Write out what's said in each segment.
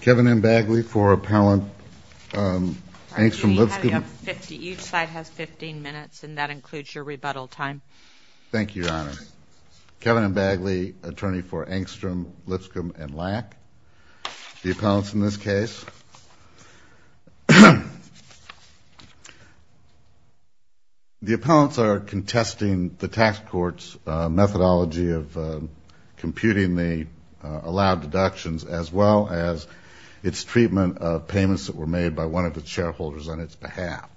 Kevin M. Bagley for Appellant Angstrom, Lipscomb & Lack. Each side has 15 minutes, and that includes your rebuttal time. Thank you, Your Honor. Kevin M. Bagley, attorney for Angstrom, Lipscomb & Lack. The appellants in this case. The appellants are contesting the tax court's methodology of computing the allowed deductions as well as its treatment of payments that were made by one of the shareholders on its behalf.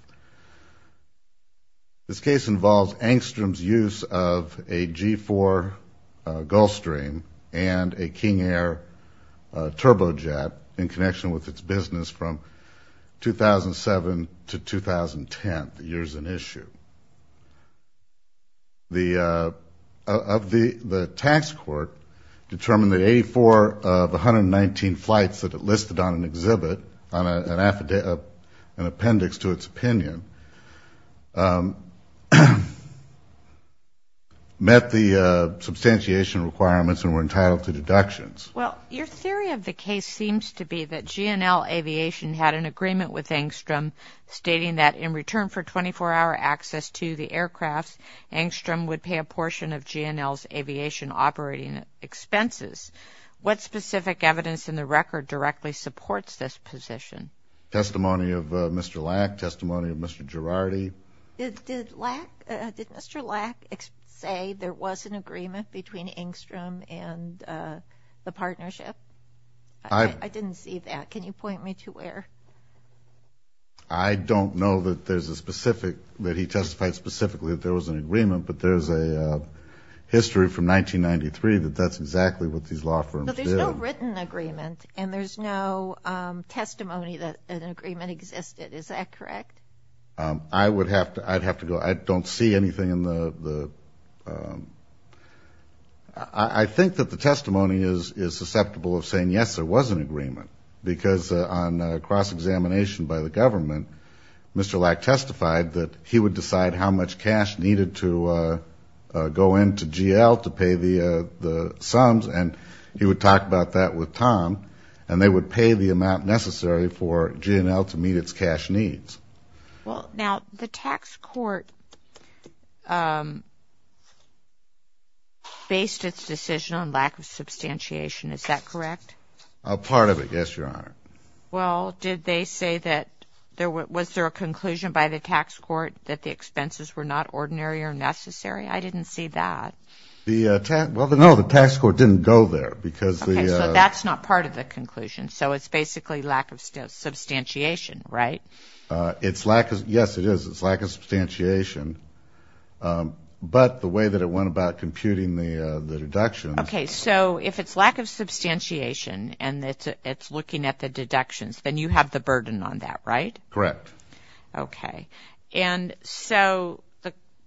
This case involves Angstrom's use of a G-4 Gulfstream and a King Air turbojet in connection with its business from 2007 to 2010, the years in issue. The tax court determined that 84 of 119 flights that it listed on an exhibit, on an appendix to its opinion, met the substantiation requirements and were entitled to deductions. Well, your theory of the case seems to be that G&L Aviation had an agreement stating that in return for 24-hour access to the aircraft, Angstrom would pay a portion of G&L's aviation operating expenses. What specific evidence in the record directly supports this position? Testimony of Mr. Lack, testimony of Mr. Girardi. Did Mr. Lack say there was an agreement between Angstrom and the partnership? I didn't see that. Can you point me to where? I don't know that there's a specific, that he testified specifically that there was an agreement, but there's a history from 1993 that that's exactly what these law firms did. But there's no written agreement, and there's no testimony that an agreement existed. Is that correct? I would have to go. I don't see anything in the... I think that the testimony is susceptible of saying, yes, there was an agreement, because on cross-examination by the government, Mr. Lack testified that he would decide how much cash needed to go into G&L to pay the sums, and he would talk about that with Tom, and they would pay the amount necessary for G&L to meet its cash needs. Well, now, the tax court based its decision on lack of substantiation. Is that correct? A part of it, yes, Your Honor. Well, did they say that, was there a conclusion by the tax court that the expenses were not ordinary or necessary? I didn't see that. Well, no, the tax court didn't go there, because the... Okay, so that's not part of the conclusion. So it's basically lack of substantiation, right? Yes, it is. It's lack of substantiation, but the way that it went about computing the deductions... Okay, so if it's lack of substantiation and it's looking at the deductions, then you have the burden on that, right? Correct. Okay, and so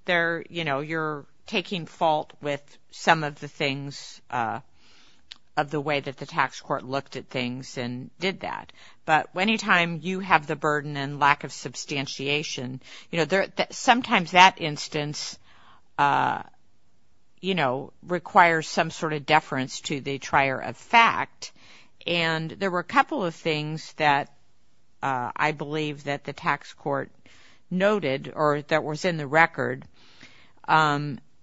you're taking fault with some of the things of the way that the tax court looked at things and did that, but any time you have the burden and lack of substantiation, sometimes that instance requires some sort of deference to the trier of fact, and there were a couple of things that I believe that the tax court noted or that was in the record.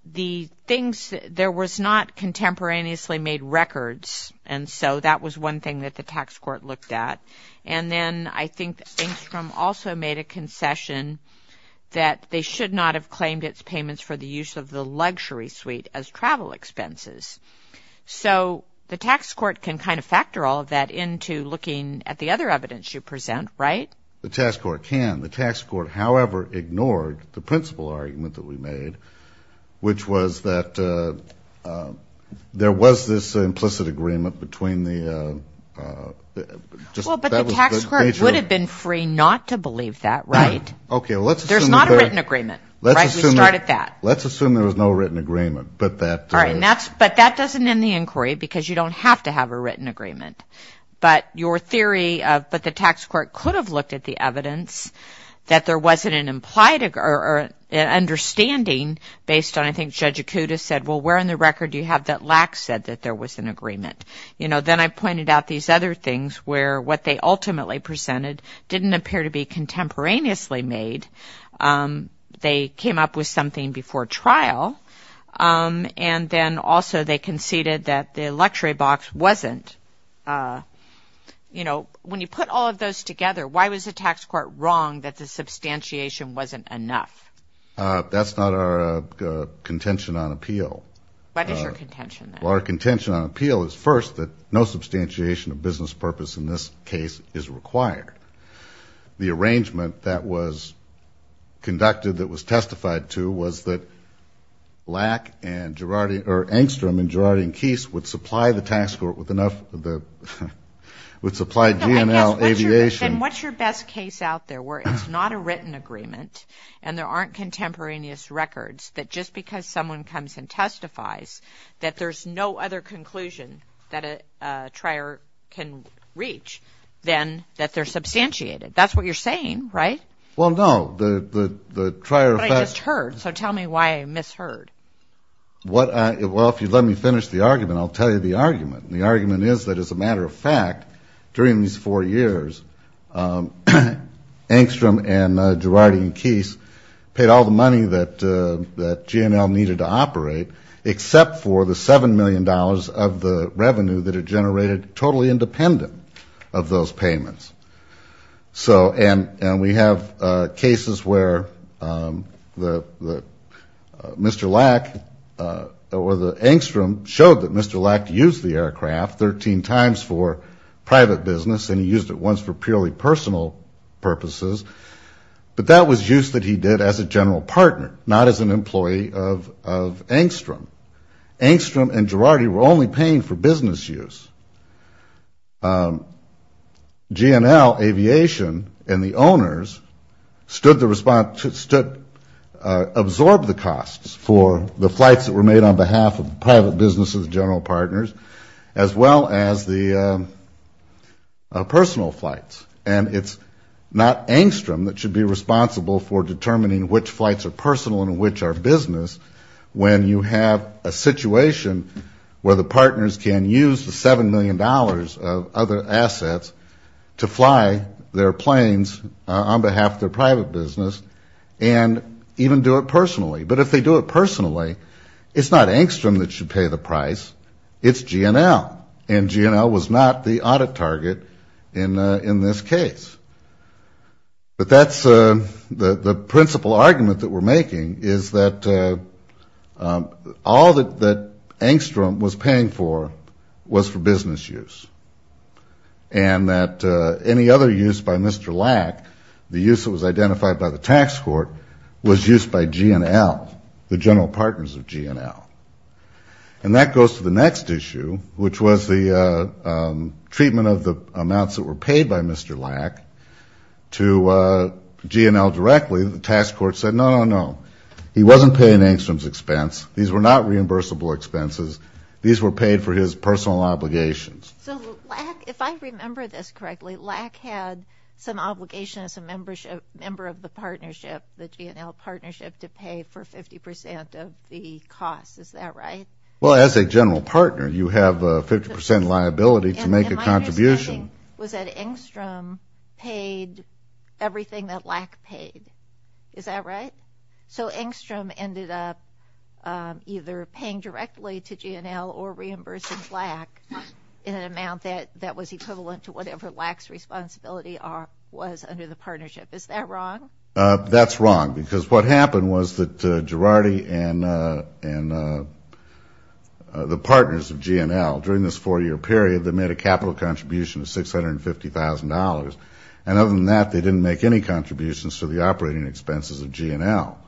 The things, there was not contemporaneously made records, and so that was one thing that the tax court looked at, and then I think Stingstrom also made a concession that they should not have claimed its payments for the use of the luxury suite as travel expenses. So the tax court can kind of factor all of that into looking at the other evidence you present, right? The tax court can. The tax court, however, ignored the principal argument that we made, which was that there was this implicit agreement between the major. Well, but the tax court would have been free not to believe that, right? There's not a written agreement, right? We started that. Let's assume there was no written agreement. All right, but that doesn't end the inquiry because you don't have to have a written agreement, but the tax court could have looked at the evidence that there wasn't an implied or an understanding based on, I think, Judge Acuda said, well, where in the record do you have that Lacks said that there was an agreement? You know, then I pointed out these other things where what they ultimately presented didn't appear to be contemporaneously made. They came up with something before trial, and then also they conceded that the luxury box wasn't. You know, when you put all of those together, why was the tax court wrong that the substantiation wasn't enough? That's not our contention on appeal. What is your contention, then? Our contention on appeal is, first, that no substantiation of business purpose in this case is required. The arrangement that was conducted, that was testified to, was that Lack and Gerardian, or Engstrom and Gerardian-Keese, would supply G&L Aviation. Yes, and what's your best case out there where it's not a written agreement and there aren't contemporaneous records, that just because someone comes and testifies that there's no other conclusion that a trier can reach than that they're substantiated? That's what you're saying, right? Well, no. But I just heard, so tell me why I misheard. Well, if you let me finish the argument, I'll tell you the argument. And the argument is that, as a matter of fact, during these four years, Engstrom and Gerardian-Keese paid all the money that G&L needed to operate, except for the $7 million of the revenue that had generated totally independent of those payments. And we have cases where Mr. Lack or Engstrom showed that Mr. Lack used the aircraft 13 times for private business and he used it once for purely personal purposes. But that was use that he did as a general partner, not as an employee of Engstrom. Engstrom and Gerardian-Keese were only paying for business use. G&L Aviation and the owners stood to absorb the costs for the flights that were made on behalf of the private business of the general partners, as well as the personal flights. And it's not Engstrom that should be responsible for determining which flights are personal and which are business when you have a situation where the partners can use the $7 million of other assets to fly their planes on behalf of their private business and even do it personally. But if they do it personally, it's not Engstrom that should pay the price, it's G&L. And G&L was not the audit target in this case. But that's the principal argument that we're making, is that all that Engstrom was paying for was for business use. And that any other use by Mr. Lack, the use that was identified by the tax court, was used by G&L, the general partners of G&L. And that goes to the next issue, which was the treatment of the amounts that were paid by Mr. Lack to G&L directly. The tax court said, no, no, no, he wasn't paying Engstrom's expense. These were not reimbursable expenses. These were paid for his personal obligations. So Lack, if I remember this correctly, Lack had some obligation as a member of the partnership, the G&L partnership, to pay for 50% of the cost. Is that right? Well, as a general partner, you have a 50% liability to make a contribution. And my understanding was that Engstrom paid everything that Lack paid. Is that right? So Engstrom ended up either paying directly to G&L or reimbursing Lack in an amount that was equivalent to whatever Lack's responsibility was under the partnership. Is that wrong? That's wrong, because what happened was that Girardi and the partners of G&L, during this four-year period, they made a capital contribution of $650,000. And other than that, they didn't make any contributions to the operating expenses of G&L.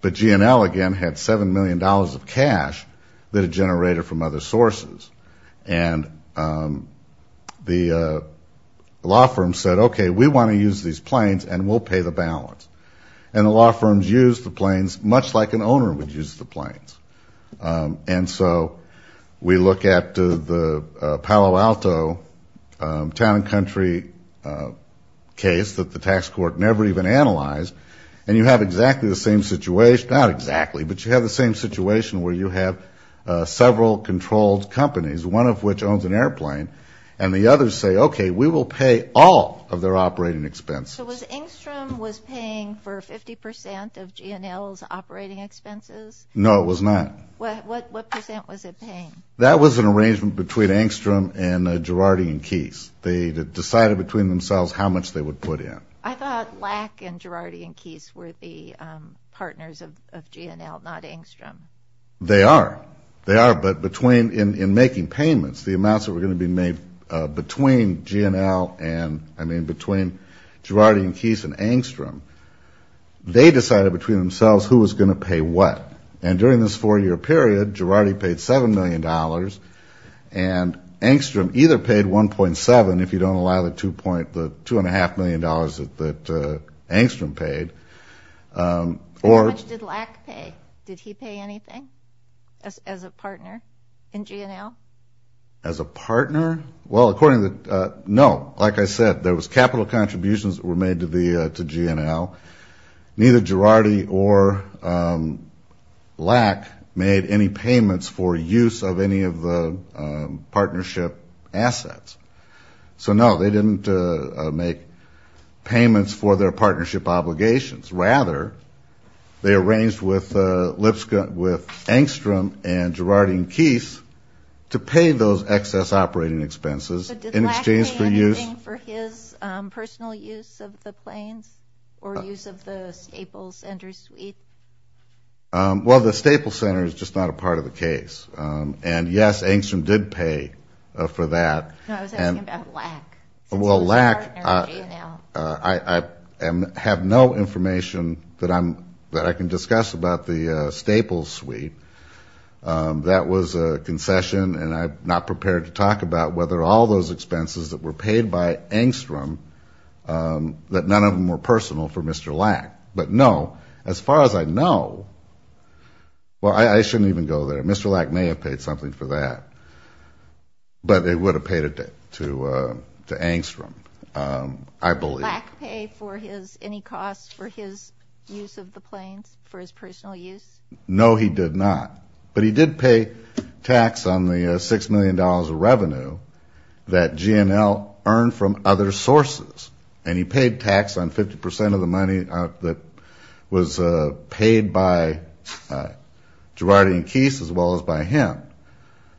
But G&L, again, had $7 million of cash that it generated from other sources. And the law firm said, okay, we want to use these planes and we'll pay the balance. And the law firms used the planes much like an owner would use the planes. And so we look at the Palo Alto town and country case that the tax court never even analyzed, and you have exactly the same situation, not exactly, but you have the same situation where you have several controlled companies, one of which owns an airplane, and the others say, okay, we will pay all of their operating expenses. So was Engstrom was paying for 50% of G&L's operating expenses? No, it was not. What percent was it paying? That was an arrangement between Engstrom and Girardi and Keyes. They decided between themselves how much they would put in. I thought Lack and Girardi and Keyes were the partners of G&L, not Engstrom. They are. They are, but in making payments, the amounts that were going to be made between G&L and, I mean, they decided between themselves who was going to pay what. And during this four-year period, Girardi paid $7 million, and Engstrom either paid 1.7 if you don't allow the $2.5 million that Engstrom paid. How much did Lack pay? Did he pay anything as a partner in G&L? As a partner? Well, according to the no, like I said, there was capital contributions that were made to G&L. Neither Girardi or Lack made any payments for use of any of the partnership assets. So no, they didn't make payments for their partnership obligations. Rather, they arranged with Engstrom and Girardi and Keyes to pay those excess operating expenses in exchange for use. But did Lack pay anything for his personal use of the planes or use of the Staples Center suite? Well, the Staples Center is just not a part of the case. And, yes, Engstrom did pay for that. No, I was asking about Lack. Well, Lack, I have no information that I can discuss about the Staples suite. That was a concession, and I'm not prepared to talk about whether all those expenses that were paid by Engstrom, that none of them were personal for Mr. Lack. But, no, as far as I know, well, I shouldn't even go there. Mr. Lack may have paid something for that. But they would have paid it to Engstrom, I believe. Did Lack pay for any costs for his use of the planes, for his personal use? No, he did not. But he did pay tax on the $6 million of revenue that G&L earned from other sources. And he paid tax on 50% of the money that was paid by Girardi and Keese, as well as by him.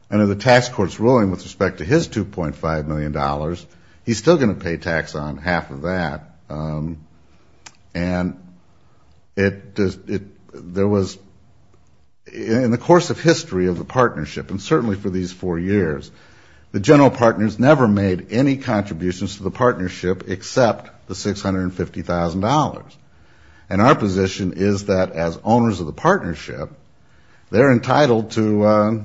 And in the tax court's ruling with respect to his $2.5 million, he's still going to pay tax on half of that. And there was, in the course of history of the partnership, and certainly for these four years, the general partners never made any contributions to the partnership except the $650,000. And our position is that as owners of the partnership, they're entitled to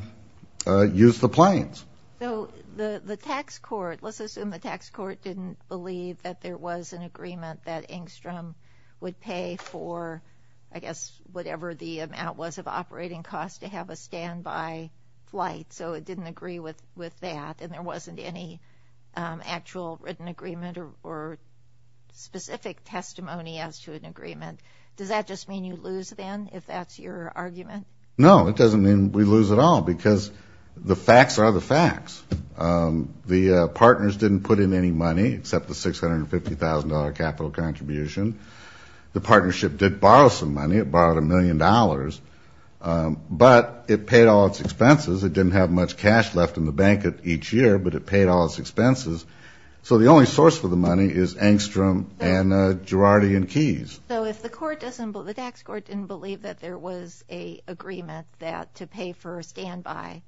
use the planes. So the tax court, let's assume the tax court didn't believe that there was an agreement that Engstrom would pay for, I guess, whatever the amount was of operating costs to have a standby flight. So it didn't agree with that. And there wasn't any actual written agreement or specific testimony as to an agreement. Does that just mean you lose, then, if that's your argument? No, it doesn't mean we lose at all, because the facts are the facts. The partners didn't put in any money except the $650,000 capital contribution. The partnership did borrow some money. It borrowed $1 million. But it paid all its expenses. It didn't have much cash left in the bank each year, but it paid all its expenses. So the only source for the money is Engstrom and Girardi and Keyes. So if the tax court didn't believe that there was an agreement to pay for a standby,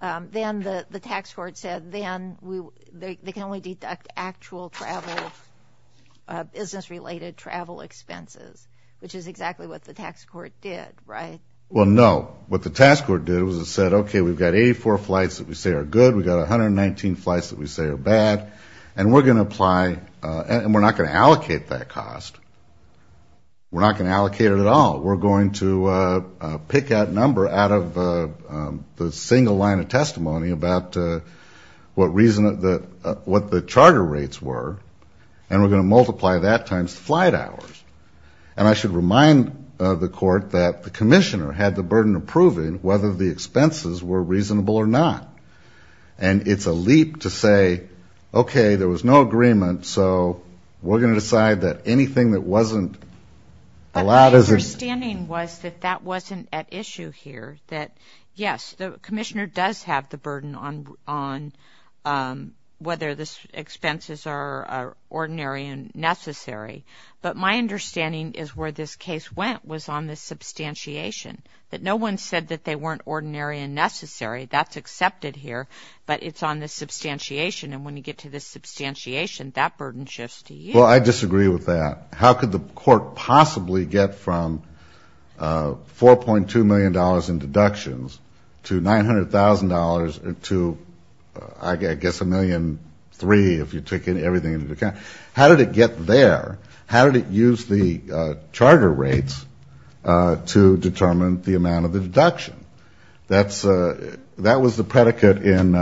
then the tax court said then they can only deduct actual travel, business-related travel expenses, which is exactly what the tax court did, right? Well, no. What the tax court did was it said, okay, we've got 84 flights that we say are good. We've got 119 flights that we say are bad. And we're going to apply, and we're not going to allocate that cost. We're not going to allocate it at all. We're going to pick that number out of the single line of testimony about what the charter rates were, and we're going to multiply that times flight hours. And I should remind the court that the commissioner had the burden of proving whether the expenses were reasonable or not. And it's a leap to say, okay, there was no agreement, so we're going to decide that anything that wasn't allowed as a ---- But my understanding was that that wasn't at issue here, that, yes, the commissioner does have the burden on whether the expenses are ordinary and necessary. But my understanding is where this case went was on the substantiation, that no one said that they weren't ordinary and necessary. That's accepted here, but it's on the substantiation. And when you get to the substantiation, that burden shifts to you. Well, I disagree with that. How could the court possibly get from $4.2 million in deductions to $900,000 to, I guess, a million three, if you're taking everything into account, how did it get there? How did it use the charter rates to determine the amount of the deduction? That was the predicate in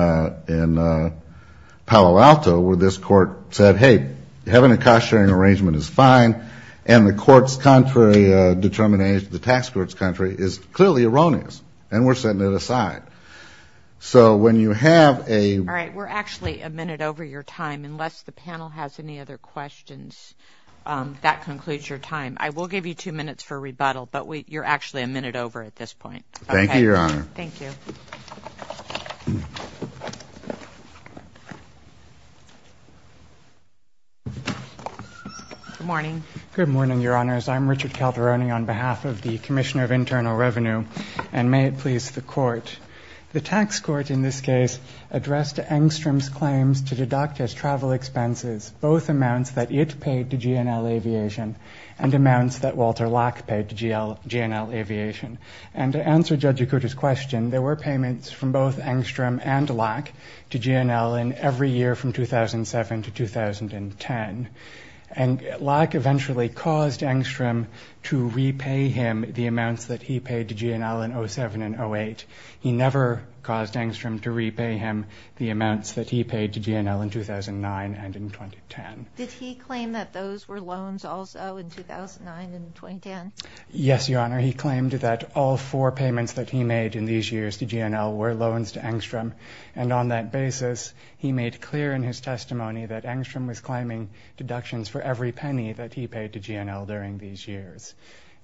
Palo Alto where this court said, hey, having a cost-sharing arrangement is fine, and the court's contrary determination to the tax court's contrary is clearly erroneous, and we're setting it aside. So when you have a ---- All right, we're actually a minute over your time. Unless the panel has any other questions, that concludes your time. I will give you two minutes for rebuttal, but you're actually a minute over at this point. Thank you, Your Honor. Thank you. Good morning. Good morning, Your Honors. I'm Richard Calderoni on behalf of the Commissioner of Internal Revenue, and may it please the Court, the tax court in this case addressed Engstrom's claims to deduct his travel expenses, both amounts that it paid to G&L Aviation and amounts that Walter Locke paid to G&L Aviation. And to answer Judge Yakuta's question, there were payments from both Engstrom and Locke to G&L in every year from 2007 to 2010. And Locke eventually caused Engstrom to repay him the amounts that he paid to G&L in 07 and 08. He never caused Engstrom to repay him the amounts that he paid to G&L in 2009 and in 2010. Did he claim that those were loans also in 2009 and 2010? Yes, Your Honor. He claimed that all four payments that he made in these years to G&L were loans to Engstrom. And on that basis, he made clear in his testimony that Engstrom was claiming deductions for every penny that he paid to G&L during these years.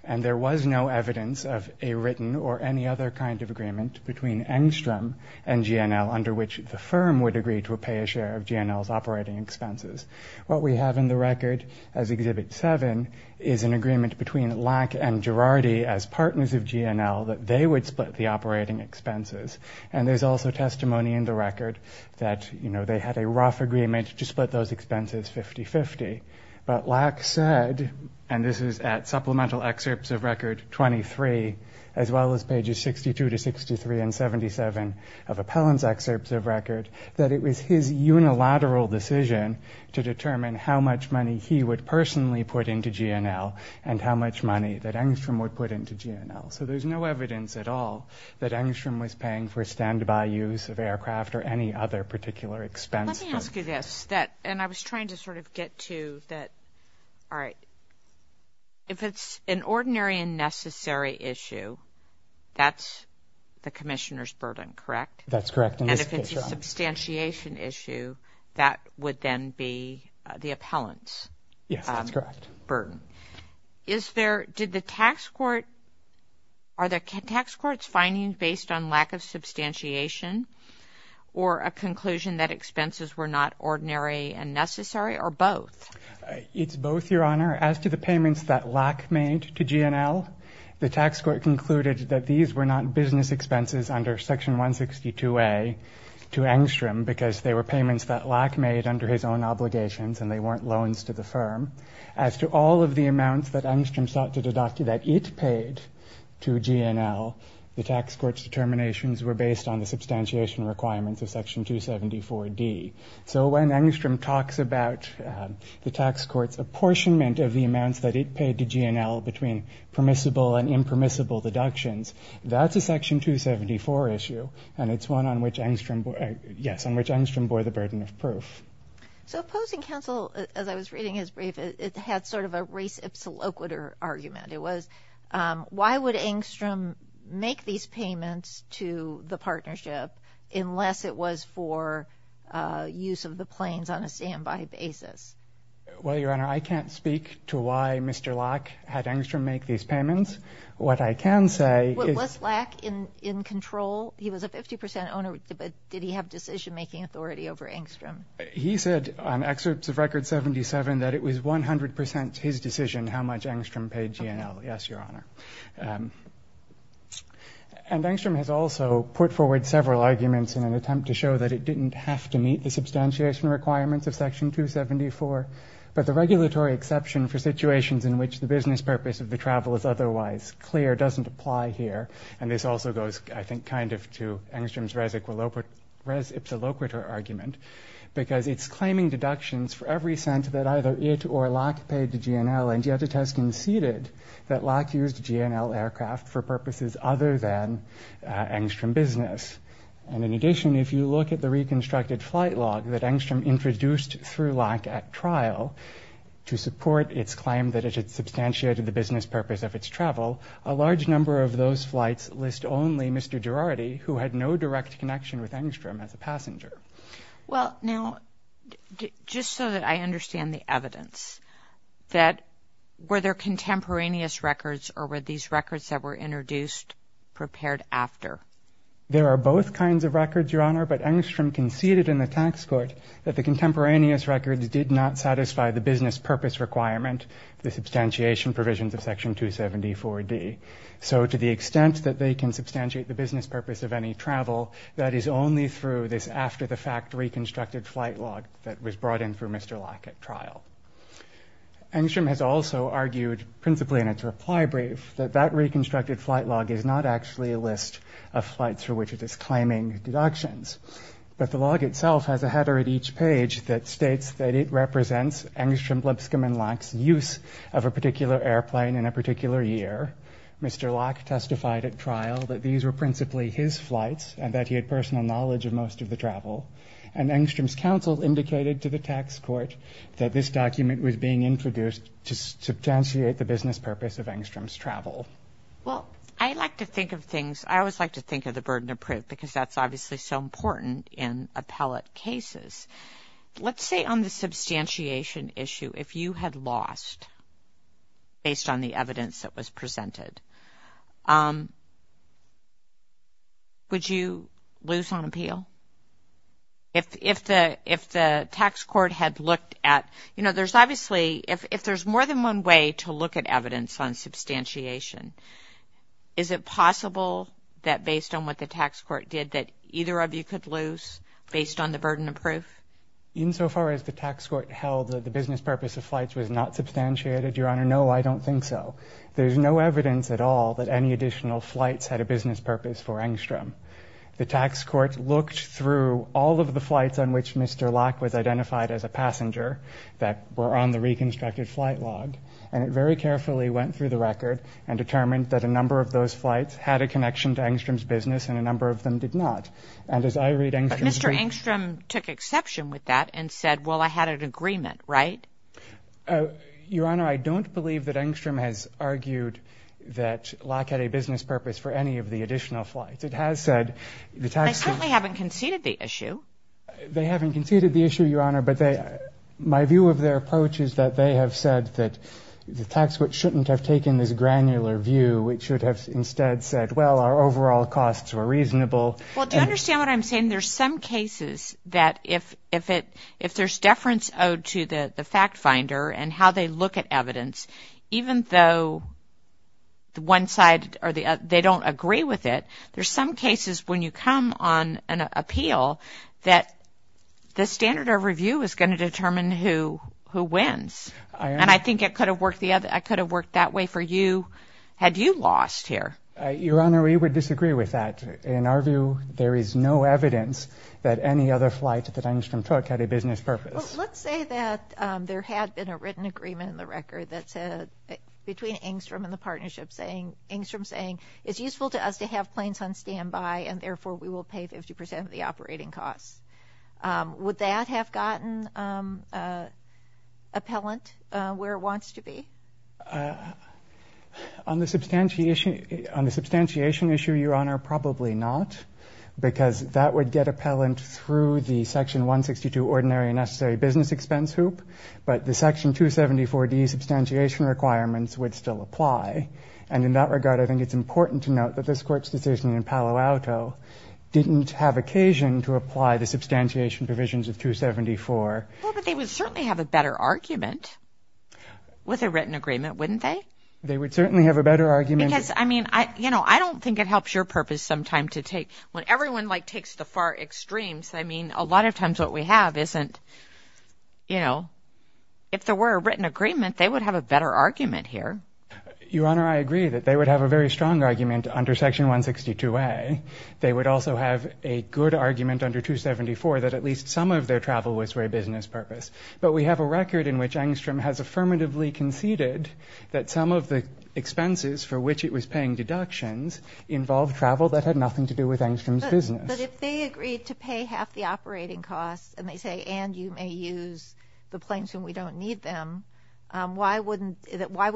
And there was no evidence of a written or any other kind of agreement between Engstrom and G&L under which the firm would agree to pay a share of G&L's operating expenses. What we have in the record as Exhibit 7 is an agreement between Locke and Girardi as partners of G&L that they would split the operating expenses. And there's also testimony in the record that, you know, they had a rough agreement to split those expenses 50-50. But Locke said, and this is at Supplemental Excerpts of Record 23, as well as pages 62 to 63 and 77 of Appellant's Excerpts of Record, that it was his unilateral decision to determine how much money he would personally put into G&L and how much money that Engstrom would put into G&L. So there's no evidence at all that Engstrom was paying for standby use of aircraft or any other particular expense. Let me ask you this. And I was trying to sort of get to that. All right. If it's an ordinary and necessary issue, that's the commissioner's burden, correct? That's correct. And if it's a substantiation issue, that would then be the appellant's burden. Yes, that's correct. Did the tax court – are the tax courts finding based on lack of substantiation or a conclusion that expenses were not ordinary and necessary or both? It's both, Your Honor. As to the payments that Locke made to G&L, the tax court concluded that these were not business expenses under Section 162A to Engstrom because they were payments that Locke made under his own obligations and they weren't loans to the firm. As to all of the amounts that Engstrom sought to deduct that it paid to G&L, the tax court's determinations were based on the substantiation requirements of Section 274D. So when Engstrom talks about the tax court's apportionment of the amounts that it paid to G&L between permissible and impermissible deductions, that's a Section 274 issue, and it's one on which Engstrom – yes, on which Engstrom bore the burden of proof. So opposing counsel, as I was reading his brief, it had sort of a race-ipsiloquiter argument. It was, why would Engstrom make these payments to the partnership unless it was for use of the planes on a standby basis? Well, Your Honor, I can't speak to why Mr. Locke had Engstrom make these payments. What I can say is – Was Locke in control? He was a 50 percent owner, but did he have decision-making authority over Engstrom? He said on excerpts of Record 77 that it was 100 percent his decision how much Engstrom paid G&L. Yes, Your Honor. And Engstrom has also put forward several arguments in an attempt to show that it didn't have to meet the substantiation requirements of Section 274, but the regulatory exception for situations in which the business purpose of the travel is otherwise clear doesn't apply here, and this also goes, I think, kind of to Engstrom's race-ipsiloquiter argument, because it's claiming deductions for every cent that either it or Locke paid to G&L, and yet it has conceded that Locke used G&L aircraft for purposes other than Engstrom business. And in addition, if you look at the reconstructed flight log that Engstrom introduced through Locke at trial to support its claim that it had substantiated the business purpose of its travel, a large number of those flights list only Mr. Girardi, who had no direct connection with Engstrom as a passenger. Well, now, just so that I understand the evidence, were there contemporaneous records or were these records that were introduced prepared after? There are both kinds of records, Your Honor, but Engstrom conceded in the tax court that the contemporaneous records did not satisfy the business purpose requirement, the substantiation provisions of Section 274D. So to the extent that they can substantiate the business purpose of any travel, that is only through this after-the-fact reconstructed flight log that was brought in through Mr. Locke at trial. Engstrom has also argued, principally in its reply brief, that that reconstructed flight log is not actually a list of flights through which it is claiming deductions, but the log itself has a header at each page that states that it represents Engstrom, Lipscomb, and Locke's use of a particular airplane in a particular year. Mr. Locke testified at trial that these were principally his flights and that he had personal knowledge of most of the travel, and Engstrom's counsel indicated to the tax court that this document was being introduced to substantiate the business purpose of Engstrom's travel. Well, I like to think of things, I always like to think of the burden of proof because that's obviously so important in appellate cases. Let's say on the substantiation issue, if you had lost based on the evidence that was presented, would you lose on appeal? If the tax court had looked at, you know, there's obviously, if there's more than one way to look at evidence on substantiation, is it possible that based on what the tax court did that either of you could lose based on the burden of proof? Insofar as the tax court held that the business purpose of flights was not substantiated, Your Honor, no, I don't think so. There's no evidence at all that any additional flights had a business purpose for Engstrom. The tax court looked through all of the flights on which Mr. Locke was identified as a passenger that were on the reconstructed flight log, and it very carefully went through the record and determined that a number of those flights had a connection to Engstrom's business and a number of them did not. And as I read Engstrom's brief... But Mr. Engstrom took exception with that and said, well, I had an agreement, right? Your Honor, I don't believe that Engstrom has argued that Locke had a business purpose for any of the additional flights. It has said the tax court... They certainly haven't conceded the issue. They haven't conceded the issue, Your Honor, but my view of their approach is that they have said that the tax court shouldn't have taken this granular view. It should have instead said, well, our overall costs were reasonable. Well, do you understand what I'm saying? There's some cases that if there's deference owed to the fact finder and how they look at evidence, even though one side or the other, they don't agree with it, there's some cases when you come on an appeal that the standard of review is going to determine who wins. And I think it could have worked that way for you had you lost here. Your Honor, we would disagree with that. In our view, there is no evidence that any other flight that Engstrom took had a business purpose. Well, let's say that there had been a written agreement in the record that said, between Engstrom and the partnership, Engstrom saying it's useful to us to have planes on standby and therefore we will pay 50% of the operating costs. Would that have gotten appellant where it wants to be? On the substantiation issue, Your Honor, probably not, because that would get appellant through the Section 162 Ordinary and Necessary Business Expense Hoop, but the Section 274D substantiation requirements would still apply. And in that regard, I think it's important to note that this Court's decision in Palo Alto didn't have occasion to apply the substantiation provisions of 274. Well, but they would certainly have a better argument with a written agreement, wouldn't they? They would certainly have a better argument. Because, I mean, you know, I don't think it helps your purpose sometimes to take – when everyone, like, takes the far extremes, I mean, a lot of times what we have isn't – you know, if there were a written agreement, they would have a better argument here. Your Honor, I agree that they would have a very strong argument under Section 162A. They would also have a good argument under 274 that at least some of their travel was for a business purpose. But we have a record in which Engstrom has affirmatively conceded that some of the expenses for which it was paying deductions involved travel that had nothing to do with Engstrom's business. But if they agreed to pay half the operating costs, and they say, and you may use the planes when we don't need them, why would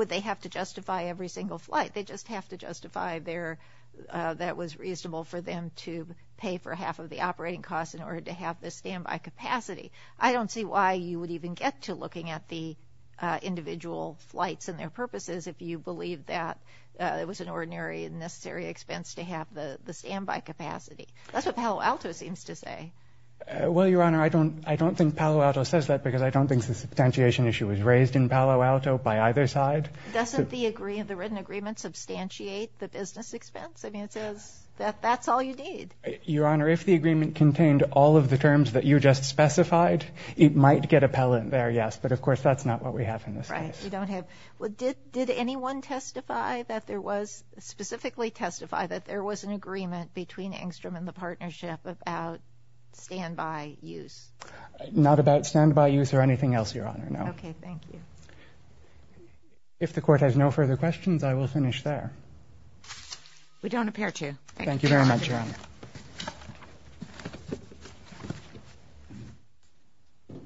they have to justify every single flight? They just have to justify their – that it was reasonable for them to pay for half of the operating costs in order to have the standby capacity. I don't see why you would even get to looking at the individual flights and their purposes if you believe that it was an ordinary and necessary expense to have the standby capacity. That's what Palo Alto seems to say. Well, Your Honor, I don't think Palo Alto says that because I don't think the substantiation issue was raised in Palo Alto by either side. Doesn't the written agreement substantiate the business expense? I mean, it says that that's all you need. Your Honor, if the agreement contained all of the terms that you just specified, it might get appellant there, yes. But, of course, that's not what we have in this case. Right, you don't have – did anyone testify that there was – specifically testify that there was an agreement between Engstrom and the partnership about standby use? Not about standby use or anything else, Your Honor, no. Okay, thank you. If the Court has no further questions, I will finish there. We don't appear to. Thank you very much, Your Honor. All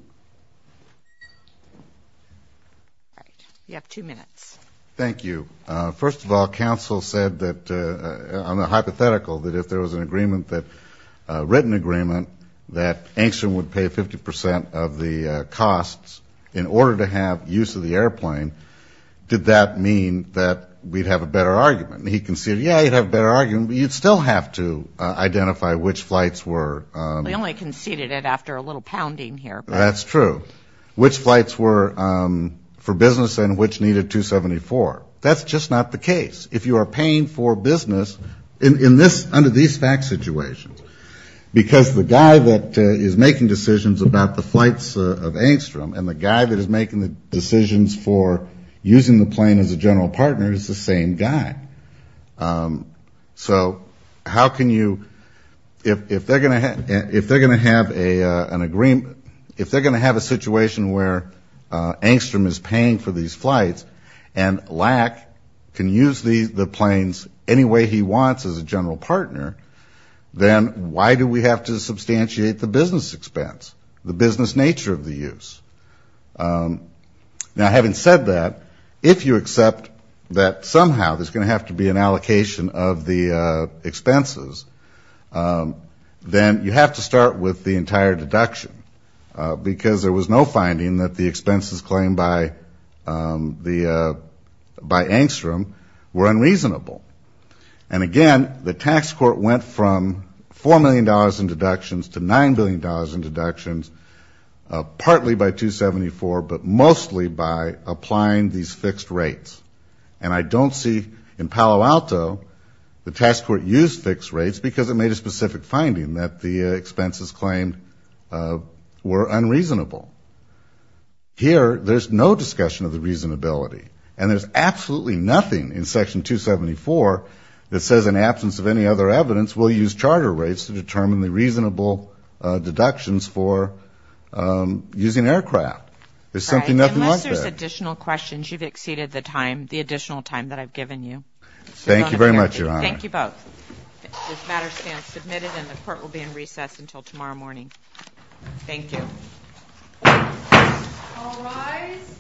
right, you have two minutes. Thank you. First of all, counsel said that – on the hypothetical that if there was an agreement that – a written agreement that Engstrom would pay 50 percent of the costs in order to have use of the airplane, did that mean that we'd have a better argument? He conceded, yeah, you'd have a better argument, but you'd still have to identify which flights were – He only conceded it after a little pounding here. That's true. Which flights were for business and which needed 274. That's just not the case. If you are paying for business in this – under these fact situations, because the guy that is making decisions about the flights of Engstrom and the guy that is making the decisions for using the plane as a general partner is the same guy. So how can you – if they're going to have an agreement – if they're going to have a situation where Engstrom is paying for these flights and Lack can use the planes any way he wants as a general partner, then why do we have to substantiate the business expense, the business nature of the use? Now, having said that, if you accept that somehow there's going to have to be an allocation of the expenses, then you have to start with the entire deduction, because there was no finding that the expenses claimed by the – by Engstrom were unreasonable. And again, the tax court went from $4 million in deductions to $9 billion in deductions, partly by 274, but mostly by applying these fixed rates. And I don't see – in Palo Alto, the tax court used fixed rates because it made a specific finding that the expenses claimed were unreasonable. Here, there's no discussion of the reasonability. And there's absolutely nothing in Section 274 that says, in absence of any other evidence, we'll use charter rates to determine the reasonable deductions for using aircraft. There's simply nothing like that. Unless there's additional questions, you've exceeded the time – the additional time that I've given you. Thank you very much, Your Honor. Thank you both. This matter stands submitted and the court will be in recess until tomorrow morning. Thank you. All rise.